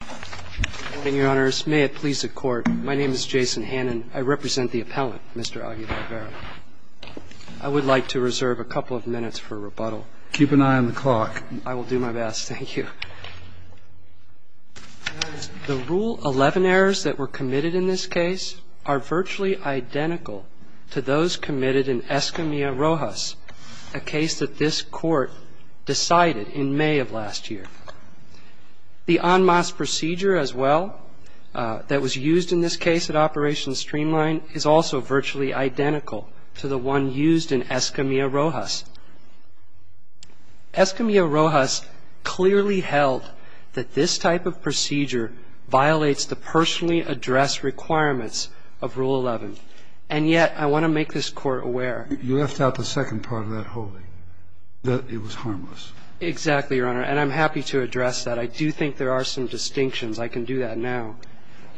Good morning, Your Honors. May it please the Court, my name is Jason Hannan. I represent the appellant, Mr. Aguilar-Vera. I would like to reserve a couple of minutes for rebuttal. Keep an eye on the clock. I will do my best. Thank you. The Rule 11 errors that were committed in this case are virtually identical to those committed in Escamilla-Rojas, a case that this Court decided in May of last year. The en masse procedure, as well, that was used in this case at Operation Streamline is also virtually identical to the one used in Escamilla-Rojas. Escamilla-Rojas clearly held that this type of procedure violates the personally addressed requirements of Rule 11. And yet I want to make this Court aware of the fact that in Escamilla-Rojas, there was an error. You left out the second part of that whole thing, that it was harmless. Exactly, Your Honor. And I'm happy to address that. I do think there are some distinctions. I can do that now,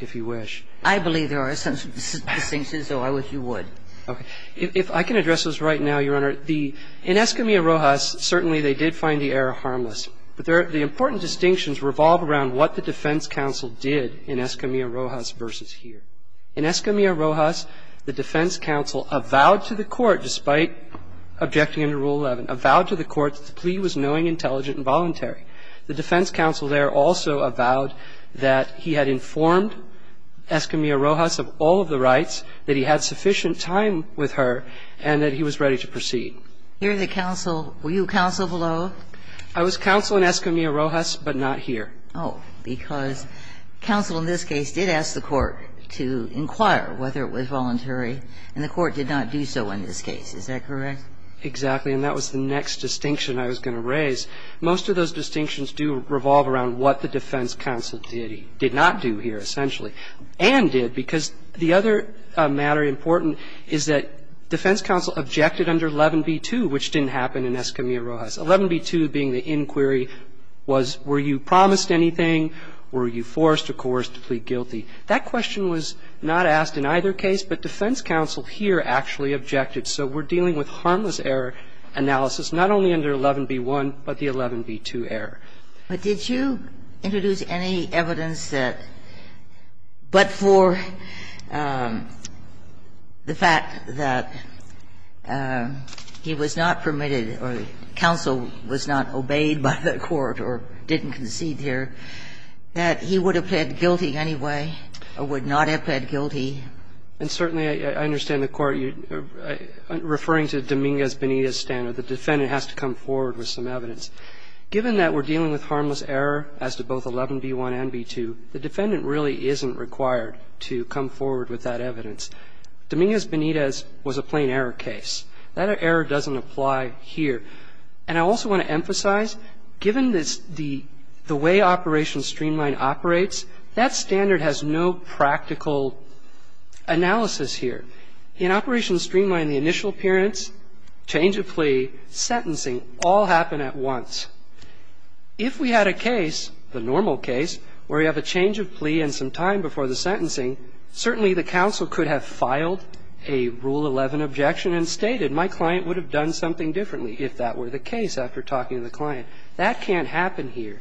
if you wish. I believe there are some distinctions, so I wish you would. Okay. If I can address those right now, Your Honor. In Escamilla-Rojas, certainly they did find the error harmless. But the important distinctions revolve around what the defense counsel did in Escamilla-Rojas versus here. In Escamilla-Rojas, the defense counsel avowed to the court, despite objecting under Rule 11, avowed to the court that the plea was knowing, intelligent and voluntary. The defense counsel there also avowed that he had informed Escamilla-Rojas of all of the rights, that he had sufficient time with her, and that he was ready to proceed. Were you counsel below? I was counsel in Escamilla-Rojas, but not here. Oh, because counsel in this case did ask the court to inquire whether it was voluntary, and the court did not do so in this case. Is that correct? Exactly. And that was the next distinction I was going to raise. Most of those distinctions do revolve around what the defense counsel did not do here, essentially, and did, because the other matter important is that defense counsel objected under 11b-2, which didn't happen in Escamilla-Rojas. 11b-2 being the inquiry was were you promised anything, were you forced or coerced to plead guilty. That question was not asked in either case, but defense counsel here actually objected. So we're dealing with harmless error analysis, not only under 11b-1, but the 11b-2 error. But did you introduce any evidence that, but for the fact that he was not permitted or counsel was not obeyed by the court or didn't concede here, that he would have pled guilty anyway or would not have pled guilty? And certainly I understand the court referring to Dominguez-Benitez standard. The defendant has to come forward with some evidence. Given that we're dealing with harmless error as to both 11b-1 and 11b-2, the defendant really isn't required to come forward with that evidence. Dominguez-Benitez was a plain error case. That error doesn't apply here. And I also want to emphasize, given the way Operation Streamline operates, that standard has no practical analysis here. In Operation Streamline, the initial appearance, change of plea, sentencing, all happen at once. If we had a case, the normal case, where we have a change of plea and some time before the sentencing, certainly the counsel could have filed a Rule 11 objection and stated, my client would have done something differently if that were the case after talking to the client. That can't happen here.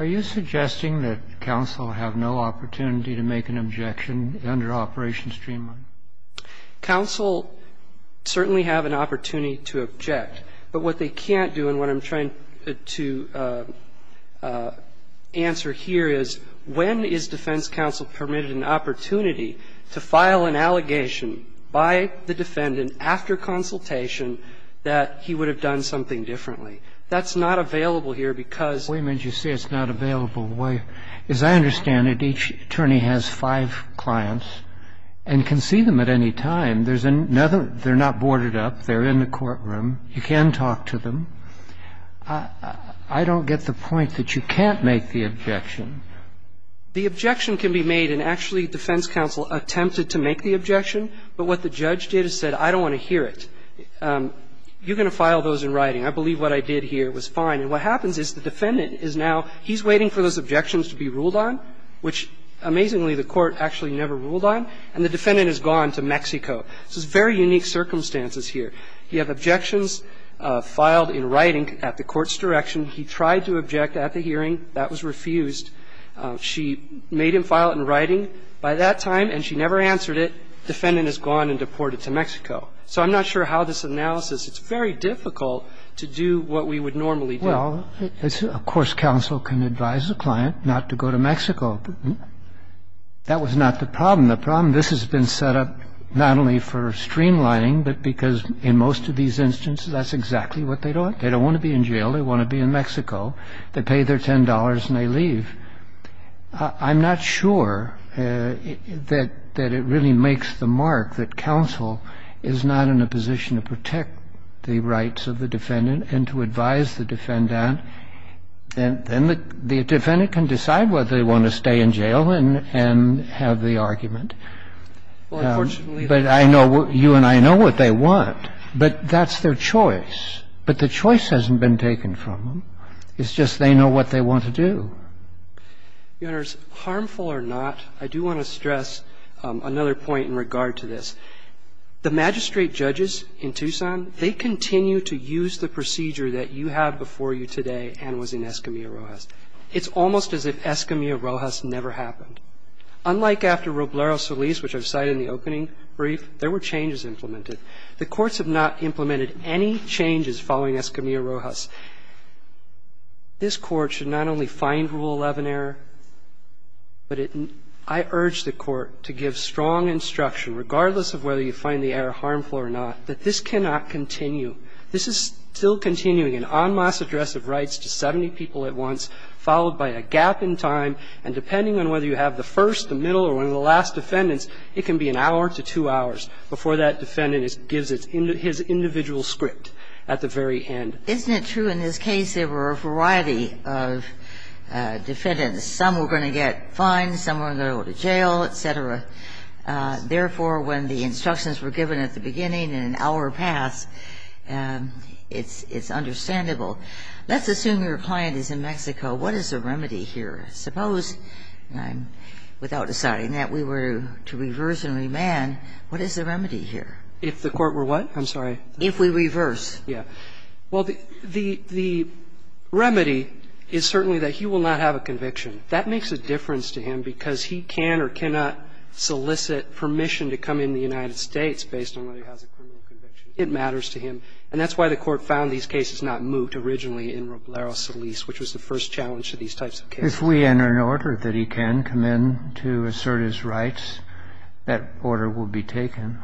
Are you suggesting that counsel have no opportunity to make an objection under Operation Streamline? Counsel certainly have an opportunity to object. But what they can't do, and what I'm trying to answer here is, when is defense counsel permitted an opportunity to file an allegation by the defendant after consultation that he would have done something differently? That's not available here because Wait a minute. You say it's not available. As I understand it, each attorney has five clients and can see them at any time. There's another they're not boarded up. They're in the courtroom. You can talk to them. I don't get the point that you can't make the objection. The objection can be made, and actually defense counsel attempted to make the objection. But what the judge did is said, I don't want to hear it. You're going to file those in writing. I believe what I did here was fine. And what happens is the defendant is now he's waiting for those objections to be ruled on, which, amazingly, the court actually never ruled on, and the defendant has gone to Mexico. So it's very unique circumstances here. You have objections filed in writing at the court's direction. He tried to object at the hearing. That was refused. She made him file it in writing by that time, and she never answered it. The defendant has gone and deported to Mexico. So I'm not sure how this analysis It's very difficult to do what we would normally do. Well, of course, counsel can advise the client not to go to Mexico. That was not the problem. The problem, this has been set up not only for streamlining, but because in most of these instances, that's exactly what they do. They don't want to be in jail. They want to be in Mexico. They pay their $10, and they leave. I'm not sure that it really makes the mark that counsel is not in a position to protect the rights of the defendant and to advise the defendant. Then the defendant can decide whether they want to stay in jail and have the argument. But I know you and I know what they want, but that's their choice. But the choice hasn't been taken from them. It's just they know what they want to do. Your Honor, harmful or not, I do want to stress another point in regard to this. The magistrate judges in Tucson, they continue to use the procedure that you have before you today and was in Escamilla-Rojas. It's almost as if Escamilla-Rojas never happened. Unlike after Roblero-Solis, which I've cited in the opening brief, there were changes implemented. The courts have not implemented any changes following Escamilla-Rojas. This Court should not only find Rule 11 error, but I urge the Court to give strong instruction, regardless of whether you find the error harmful or not, that this cannot continue. This is still continuing an en masse address of rights to 70 people at once, followed by a gap in time, and depending on whether you have the first, the middle, or one of the last defendants, it can be an hour to two hours before that defendant gives its individual script at the very end. Isn't it true in this case there were a variety of defendants? Some were going to get fined, some were going to go to jail, et cetera. Therefore, when the instructions were given at the beginning in an hour pass, it's understandable. Let's assume your client is in Mexico. What is the remedy here? Suppose, without deciding that, we were to reverse and remand. What is the remedy here? If the court were what? I'm sorry. If we reverse. Yeah. Well, the remedy is certainly that he will not have a conviction. That makes a difference to him because he can or cannot solicit permission to come into the United States based on whether he has a criminal conviction. It matters to him. And that's why the Court found these cases not moot originally in Roblero Solis, which was the first challenge to these types of cases. If we enter an order that he can come in to assert his rights, that order will be taken.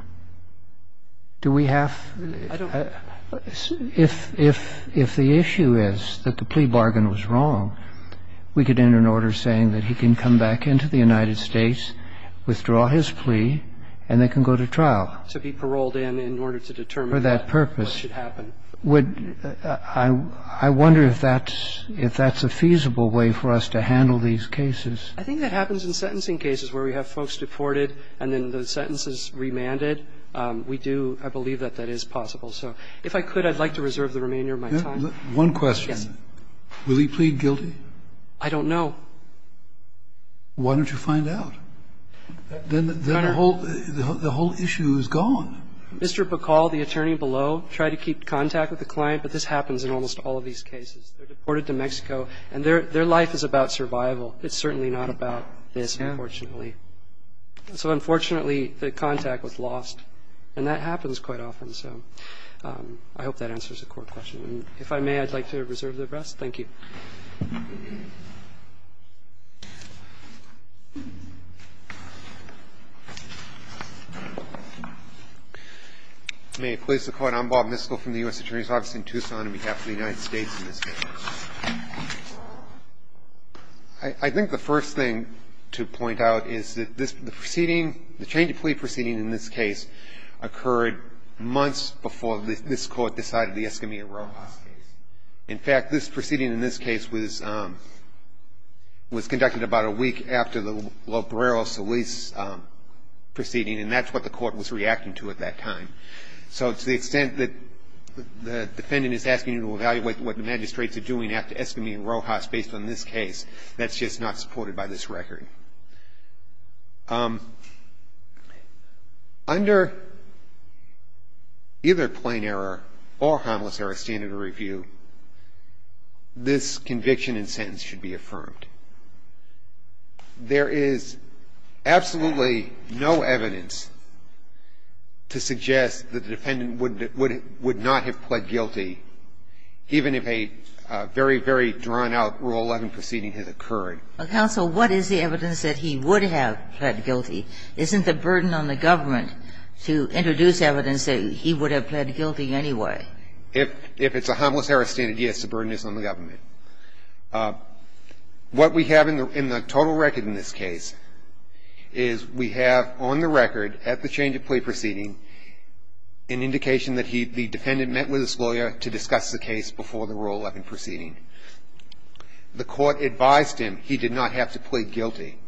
Do we have? I don't know. If the issue is that the plea bargain was wrong, we could enter an order saying that he can come back into the United States, withdraw his plea, and then can go to trial. To be paroled in in order to determine what should happen. For that purpose. Would you – I wonder if that's a feasible way for us to handle these cases. I think that happens in sentencing cases where we have folks deported and then the sentence is remanded. We do – I believe that that is possible. So if I could, I'd like to reserve the remainder of my time. One question. Yes. Will he plead guilty? I don't know. Why don't you find out? Then the whole issue is gone. Mr. Bacall, the attorney below, tried to keep contact with the client, but this happens in almost all of these cases. They're deported to Mexico, and their life is about survival. It's certainly not about this, unfortunately. So unfortunately, the contact was lost, and that happens quite often. So I hope that answers the court question. And if I may, I'd like to reserve the rest. Thank you. May it please the Court. I'm Bob Miskell from the U.S. Attorney's Office in Tucson on behalf of the United States in this case. I think the first thing to point out is that the proceeding – the change of plea proceeding in this case occurred months before this Court decided the Escamilla-Rojas case. In fact, this proceeding in this case was conducted about a week after the Lobrero-Solis proceeding, and that's what the Court was reacting to at that time. So to the extent that the defendant is asking you to evaluate what the magistrates are doing after Escamilla-Rojas based on this case, that's just not supported by this record. Under either plain error or harmless error standard of review, this conviction and sentence should be affirmed. There is absolutely no evidence to suggest that the defendant would not have pled guilty, even if a very, very drawn-out Rule 11 proceeding had occurred. Well, counsel, what is the evidence that he would have pled guilty? Isn't the burden on the government to introduce evidence that he would have pled guilty anyway? If it's a harmless error standard, yes, the burden is on the government. What we have in the total record in this case is we have on the record at the change of plea proceeding an indication that the defendant met with his lawyer to discuss the case before the Rule 11 proceeding. The Court advised him he did not have to plead guilty.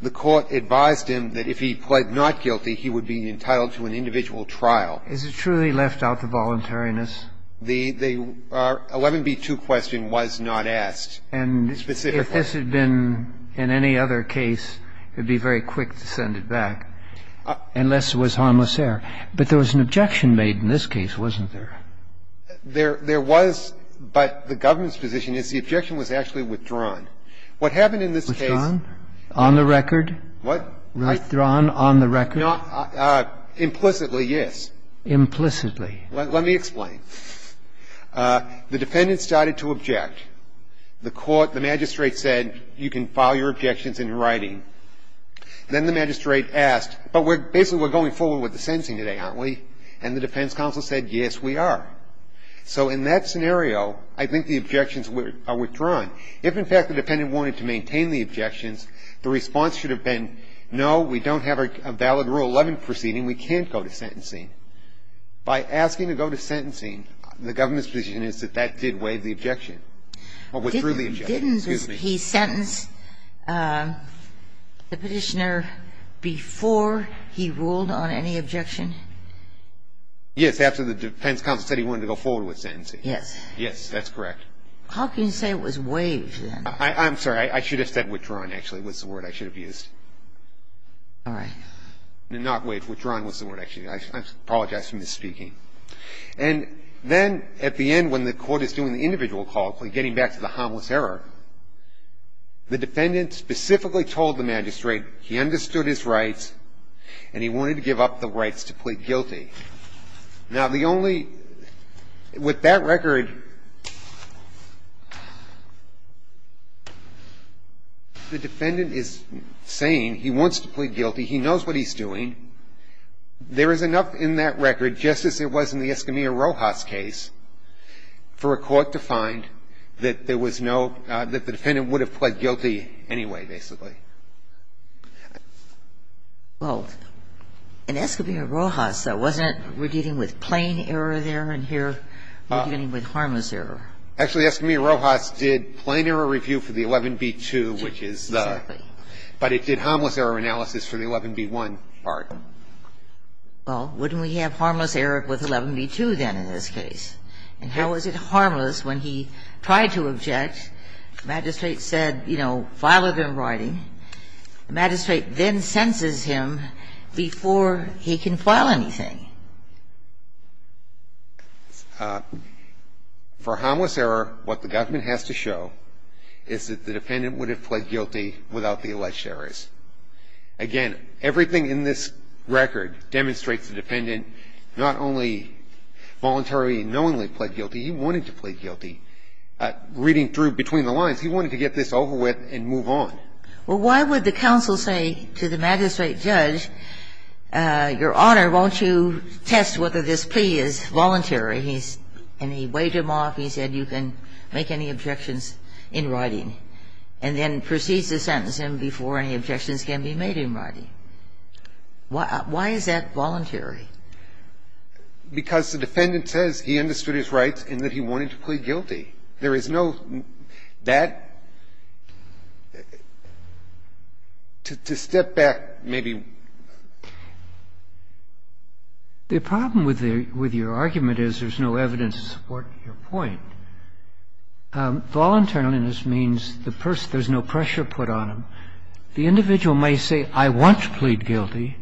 The Court advised him that if he pled not guilty, he would be entitled to an individual trial. Is it truly left out the voluntariness? The 11b2 question was not asked specifically. And if this had been in any other case, it would be very quick to send it back, unless it was harmless error. But there was an objection made in this case, wasn't there? There was, but the government's position is the objection was actually withdrawn. What happened in this case? Withdrawn? On the record? What? Withdrawn on the record? No. Implicitly, yes. Implicitly. Let me explain. The defendant started to object. The Court, the magistrate said, you can file your objections in writing. Then the magistrate asked, but basically we're going forward with the sentencing today, aren't we? And the defense counsel said, yes, we are. So in that scenario, I think the objections are withdrawn. If, in fact, the defendant wanted to maintain the objections, the response should have been, no, we don't have a valid Rule 11 proceeding, we can't go to sentencing. By asking to go to sentencing, the government's position is that that did waive the objection, or withdrew the objection. Didn't he sentence the Petitioner before he ruled on any objection? Yes, after the defense counsel said he wanted to go forward with sentencing. Yes. Yes, that's correct. How can you say it was waived, then? I'm sorry. I should have said withdrawn, actually, was the word I should have used. All right. Not waived. Withdrawn was the word I should have used. I apologize for misspeaking. And then at the end, when the Court is doing the individual call, getting back to the harmless error, the defendant specifically told the magistrate he understood his rights and he wanted to give up the rights to plead guilty. Now, the only – with that record, the defendant is saying he wants to plead guilty, he knows what he's doing. There is enough in that record, just as there was in the Escamilla-Rojas case, for a court to find that there was no – that the defendant would have pled guilty anyway, basically. Well, in Escamilla-Rojas, wasn't it we're dealing with plain error there and here we're dealing with harmless error? Actually, Escamilla-Rojas did plain error review for the 11b-2, which is the – Exactly. But it did harmless error analysis for the 11b-1 part. Well, wouldn't we have harmless error with 11b-2, then, in this case? And how was it harmless when he tried to object, the magistrate said, you know, file it in writing, the magistrate then senses him before he can file anything? For harmless error, what the government has to show is that the defendant would have pled guilty without the alleged errors. Again, everything in this record demonstrates the defendant not only voluntarily and knowingly pled guilty, he wanted to plead guilty. And he wanted to get this over with and move on. Well, why would the counsel say to the magistrate judge, Your Honor, won't you test whether this plea is voluntary? And he waved him off. He said you can make any objections in writing and then proceeds to sentence him before any objections can be made in writing. Why is that voluntary? Because the defendant says he understood his rights and that he wanted to plead guilty. There is no that to step back, maybe. The problem with your argument is there's no evidence to support your point. Voluntariliness means the person, there's no pressure put on him. The individual may say, I want to plead guilty,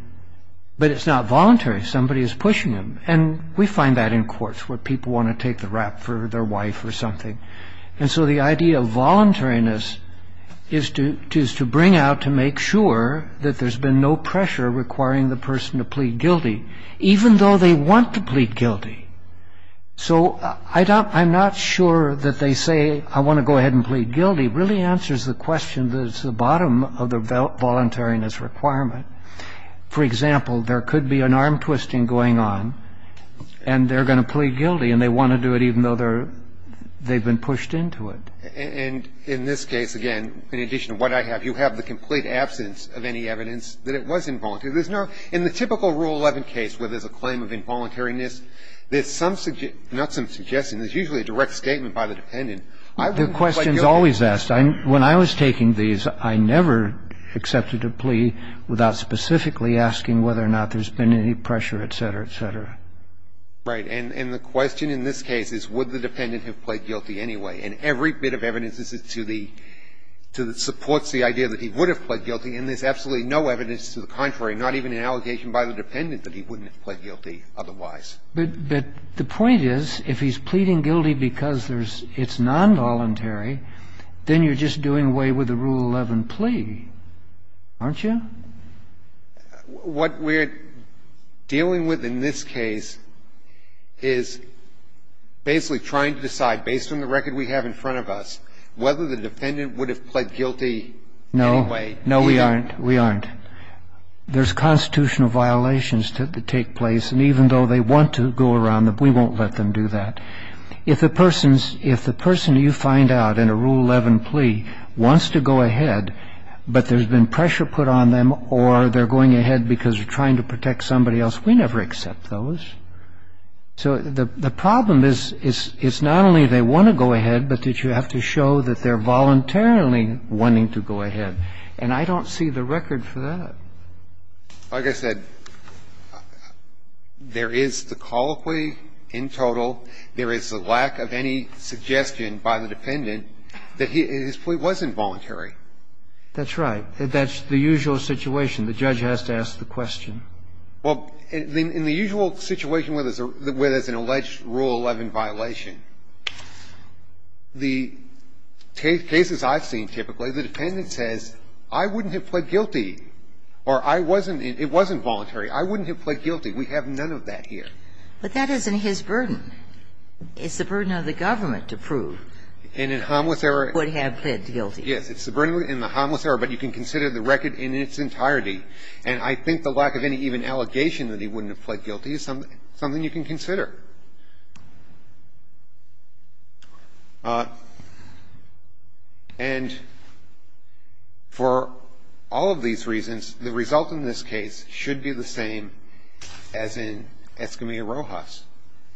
but it's not voluntary. Somebody is pushing him. And we find that in courts, where people want to take the rap for their wife or something. And so the idea of voluntariness is to bring out, to make sure, that there's been no pressure requiring the person to plead guilty, even though they want to plead guilty. So I'm not sure that they say, I want to go ahead and plead guilty, really answers the question that is the bottom of the voluntariness requirement. really answers the question that is the bottom of the voluntariness requirement. For example, there could be an arm-twisting going on, and they're going to plead guilty, and they want to do it even though they're, they've been pushed into it. And in this case, again, in addition to what I have, you have the complete absence of any evidence that it was involuntary. There's no, in the typical Rule 11 case where there's a claim of involuntariness, there's some, not some suggestion, there's usually a direct statement by the dependent. I wouldn't plead guilty. The question is always asked. When I was taking these, I never accepted a plea without specifically asking whether or not there's been any pressure, et cetera, et cetera. Right. And the question in this case is, would the dependent have pled guilty anyway? And every bit of evidence is to the, supports the idea that he would have pled guilty. And there's absolutely no evidence to the contrary, not even an allegation by the dependent that he wouldn't have pled guilty otherwise. But the point is, if he's pleading guilty because there's, it's nonvoluntary, then you're just doing away with the Rule 11 plea, aren't you? What we're dealing with in this case is basically trying to decide, based on the record we have in front of us, whether the defendant would have pled guilty anyway. No, we aren't. We aren't. There's constitutional violations that take place. And even though they want to go around them, we won't let them do that. If the person's, if the person you find out in a Rule 11 plea wants to go ahead, but there's been pressure put on them, or they're going ahead because they're trying to protect somebody else, we never accept those. So the problem is, it's not only they want to go ahead, but that you have to show that they're voluntarily wanting to go ahead. And I don't see the record for that. Like I said, there is the colloquy in total. There is the lack of any suggestion by the dependent that his plea wasn't voluntary. That's right. That's the usual situation. The judge has to ask the question. Well, in the usual situation where there's an alleged Rule 11 violation, the cases I've seen, typically, the dependent says, I wouldn't have pled guilty, or I wasn't in, it wasn't voluntary, I wouldn't have pled guilty. We have none of that here. But that isn't his burden. It's the burden of the government to prove. And in harmless error, it's the burden in the harmless error, but you can consider the record in its entirety. And I think the lack of any even allegation that he wouldn't have pled guilty is something you can consider. And for all of these reasons, the result in this case should be the same as in Escamilla-Rojas.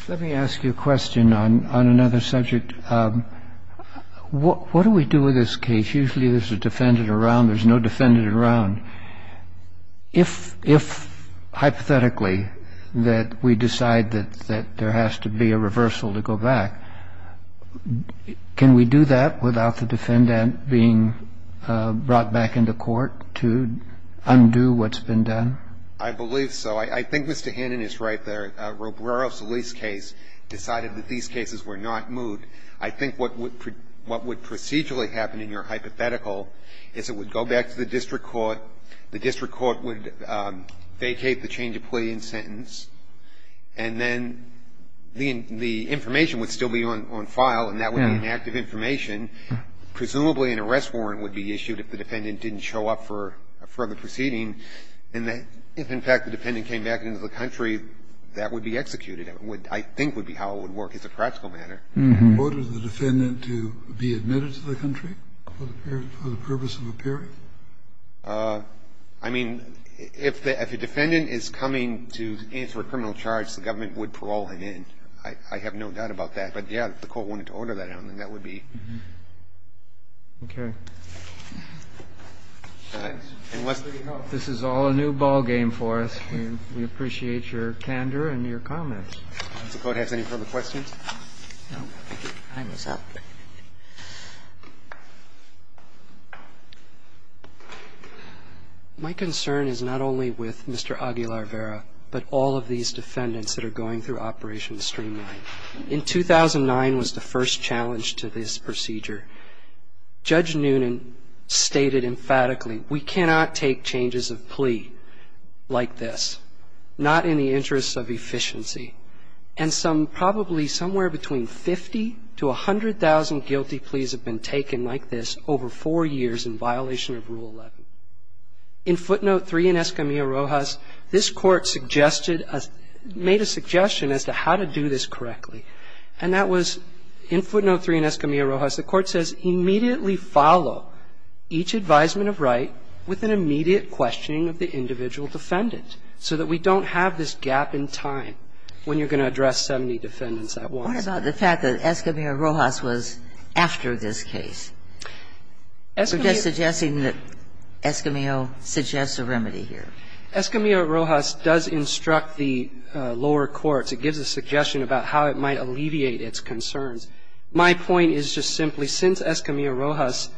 Let me ask you a question on another subject. What do we do with this case? Usually there's a defendant around. There's no defendant around. And I'm not sure that there has to be a reversal to go back. Can we do that without the defendant being brought back into court to undo what's been done? I believe so. I think Mr. Hannon is right there. Robrero-Solis' case decided that these cases were not moved. I think what would procedurally happen in your hypothetical is it would go back to the district court, the district court would vacate the change of plea and sentence, and then the information would still be on file, and that would be an active information. Presumably an arrest warrant would be issued if the defendant didn't show up for a further And if, in fact, the defendant came back into the country, that would be executed. I think that would be how it would work as a practical matter. Order the defendant to be admitted to the country for the purpose of appearing? I mean, if a defendant is coming to answer a criminal charge, the government would parole him in. I have no doubt about that. But, yeah, if the court wanted to order that out, then that would be. Okay. Thanks. And, Leslie, I hope this is all a new ballgame for us. We appreciate your candor and your comments. Does the Court have any further questions? No, thank you. Time is up. My concern is not only with Mr. Aguilar-Vera, but all of these defendants that are going through Operation Streamline. In 2009 was the first challenge to this procedure. Judge Noonan stated emphatically, we cannot take changes of plea like this, not in the interest of efficiency. And that was in footnote 3 in Escamilla-Rojas. The Court says immediately follow each advisement of right with an immediate questioning of the individual defendant, so that we don't have this gap in time when you're going to address 70 defendants at once. What about the fact that Escamilla-Rojas was the defendant? I'm just suggesting that Escamilla suggests a remedy here. Escamilla-Rojas does instruct the lower courts. It gives a suggestion about how it might alleviate its concerns. My point is just simply, since Escamilla-Rojas,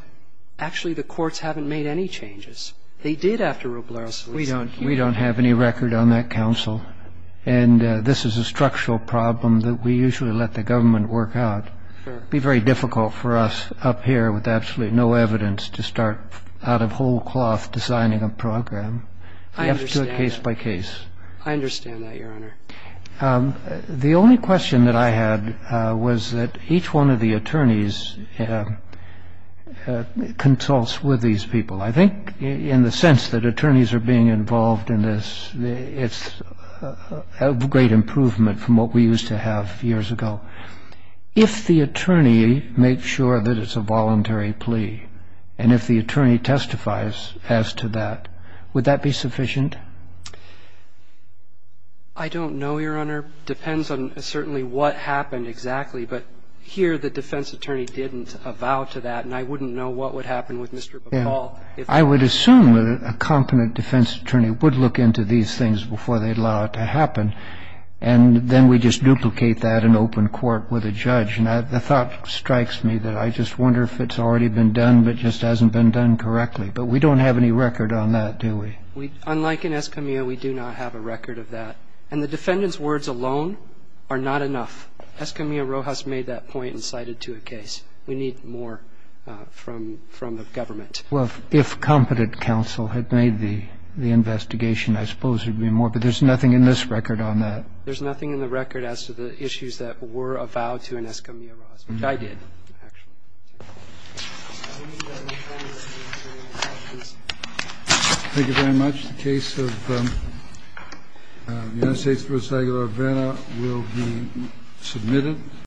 actually the courts haven't made any changes. They did after Roblero-Solis. We don't have any record on that, Counsel. And this is a structural problem that we usually let the government work out. It would be very difficult for us up here with absolutely no evidence to start out of whole cloth designing a program. We have to do it case by case. I understand that, Your Honor. The only question that I had was that each one of the attorneys consults with these people. I think in the sense that attorneys are being involved in this, it's a great improvement from what we used to have years ago. If the attorney makes sure that it's a voluntary plea, and if the attorney testifies as to that, would that be sufficient? I don't know, Your Honor. It depends on certainly what happened exactly. But here the defense attorney didn't avow to that, and I wouldn't know what would happen with Mr. Bacall. I would assume that a competent defense attorney would look into these things before they allow it to happen. And then we just duplicate that in open court with a judge. And the thought strikes me that I just wonder if it's already been done but just hasn't been done correctly. But we don't have any record on that, do we? Unlike in Escamilla, we do not have a record of that. And the defendant's words alone are not enough. Escamilla Rojas made that point and cited it to a case. We need more from the government. Well, if competent counsel had made the investigation, I suppose it would be more. But there's nothing in this record on that. There's nothing in the record as to the issues that were avowed to Escamilla Rojas, which I did, actually. Thank you very much. The case of United States v. Aguilar-Vera will be submitted.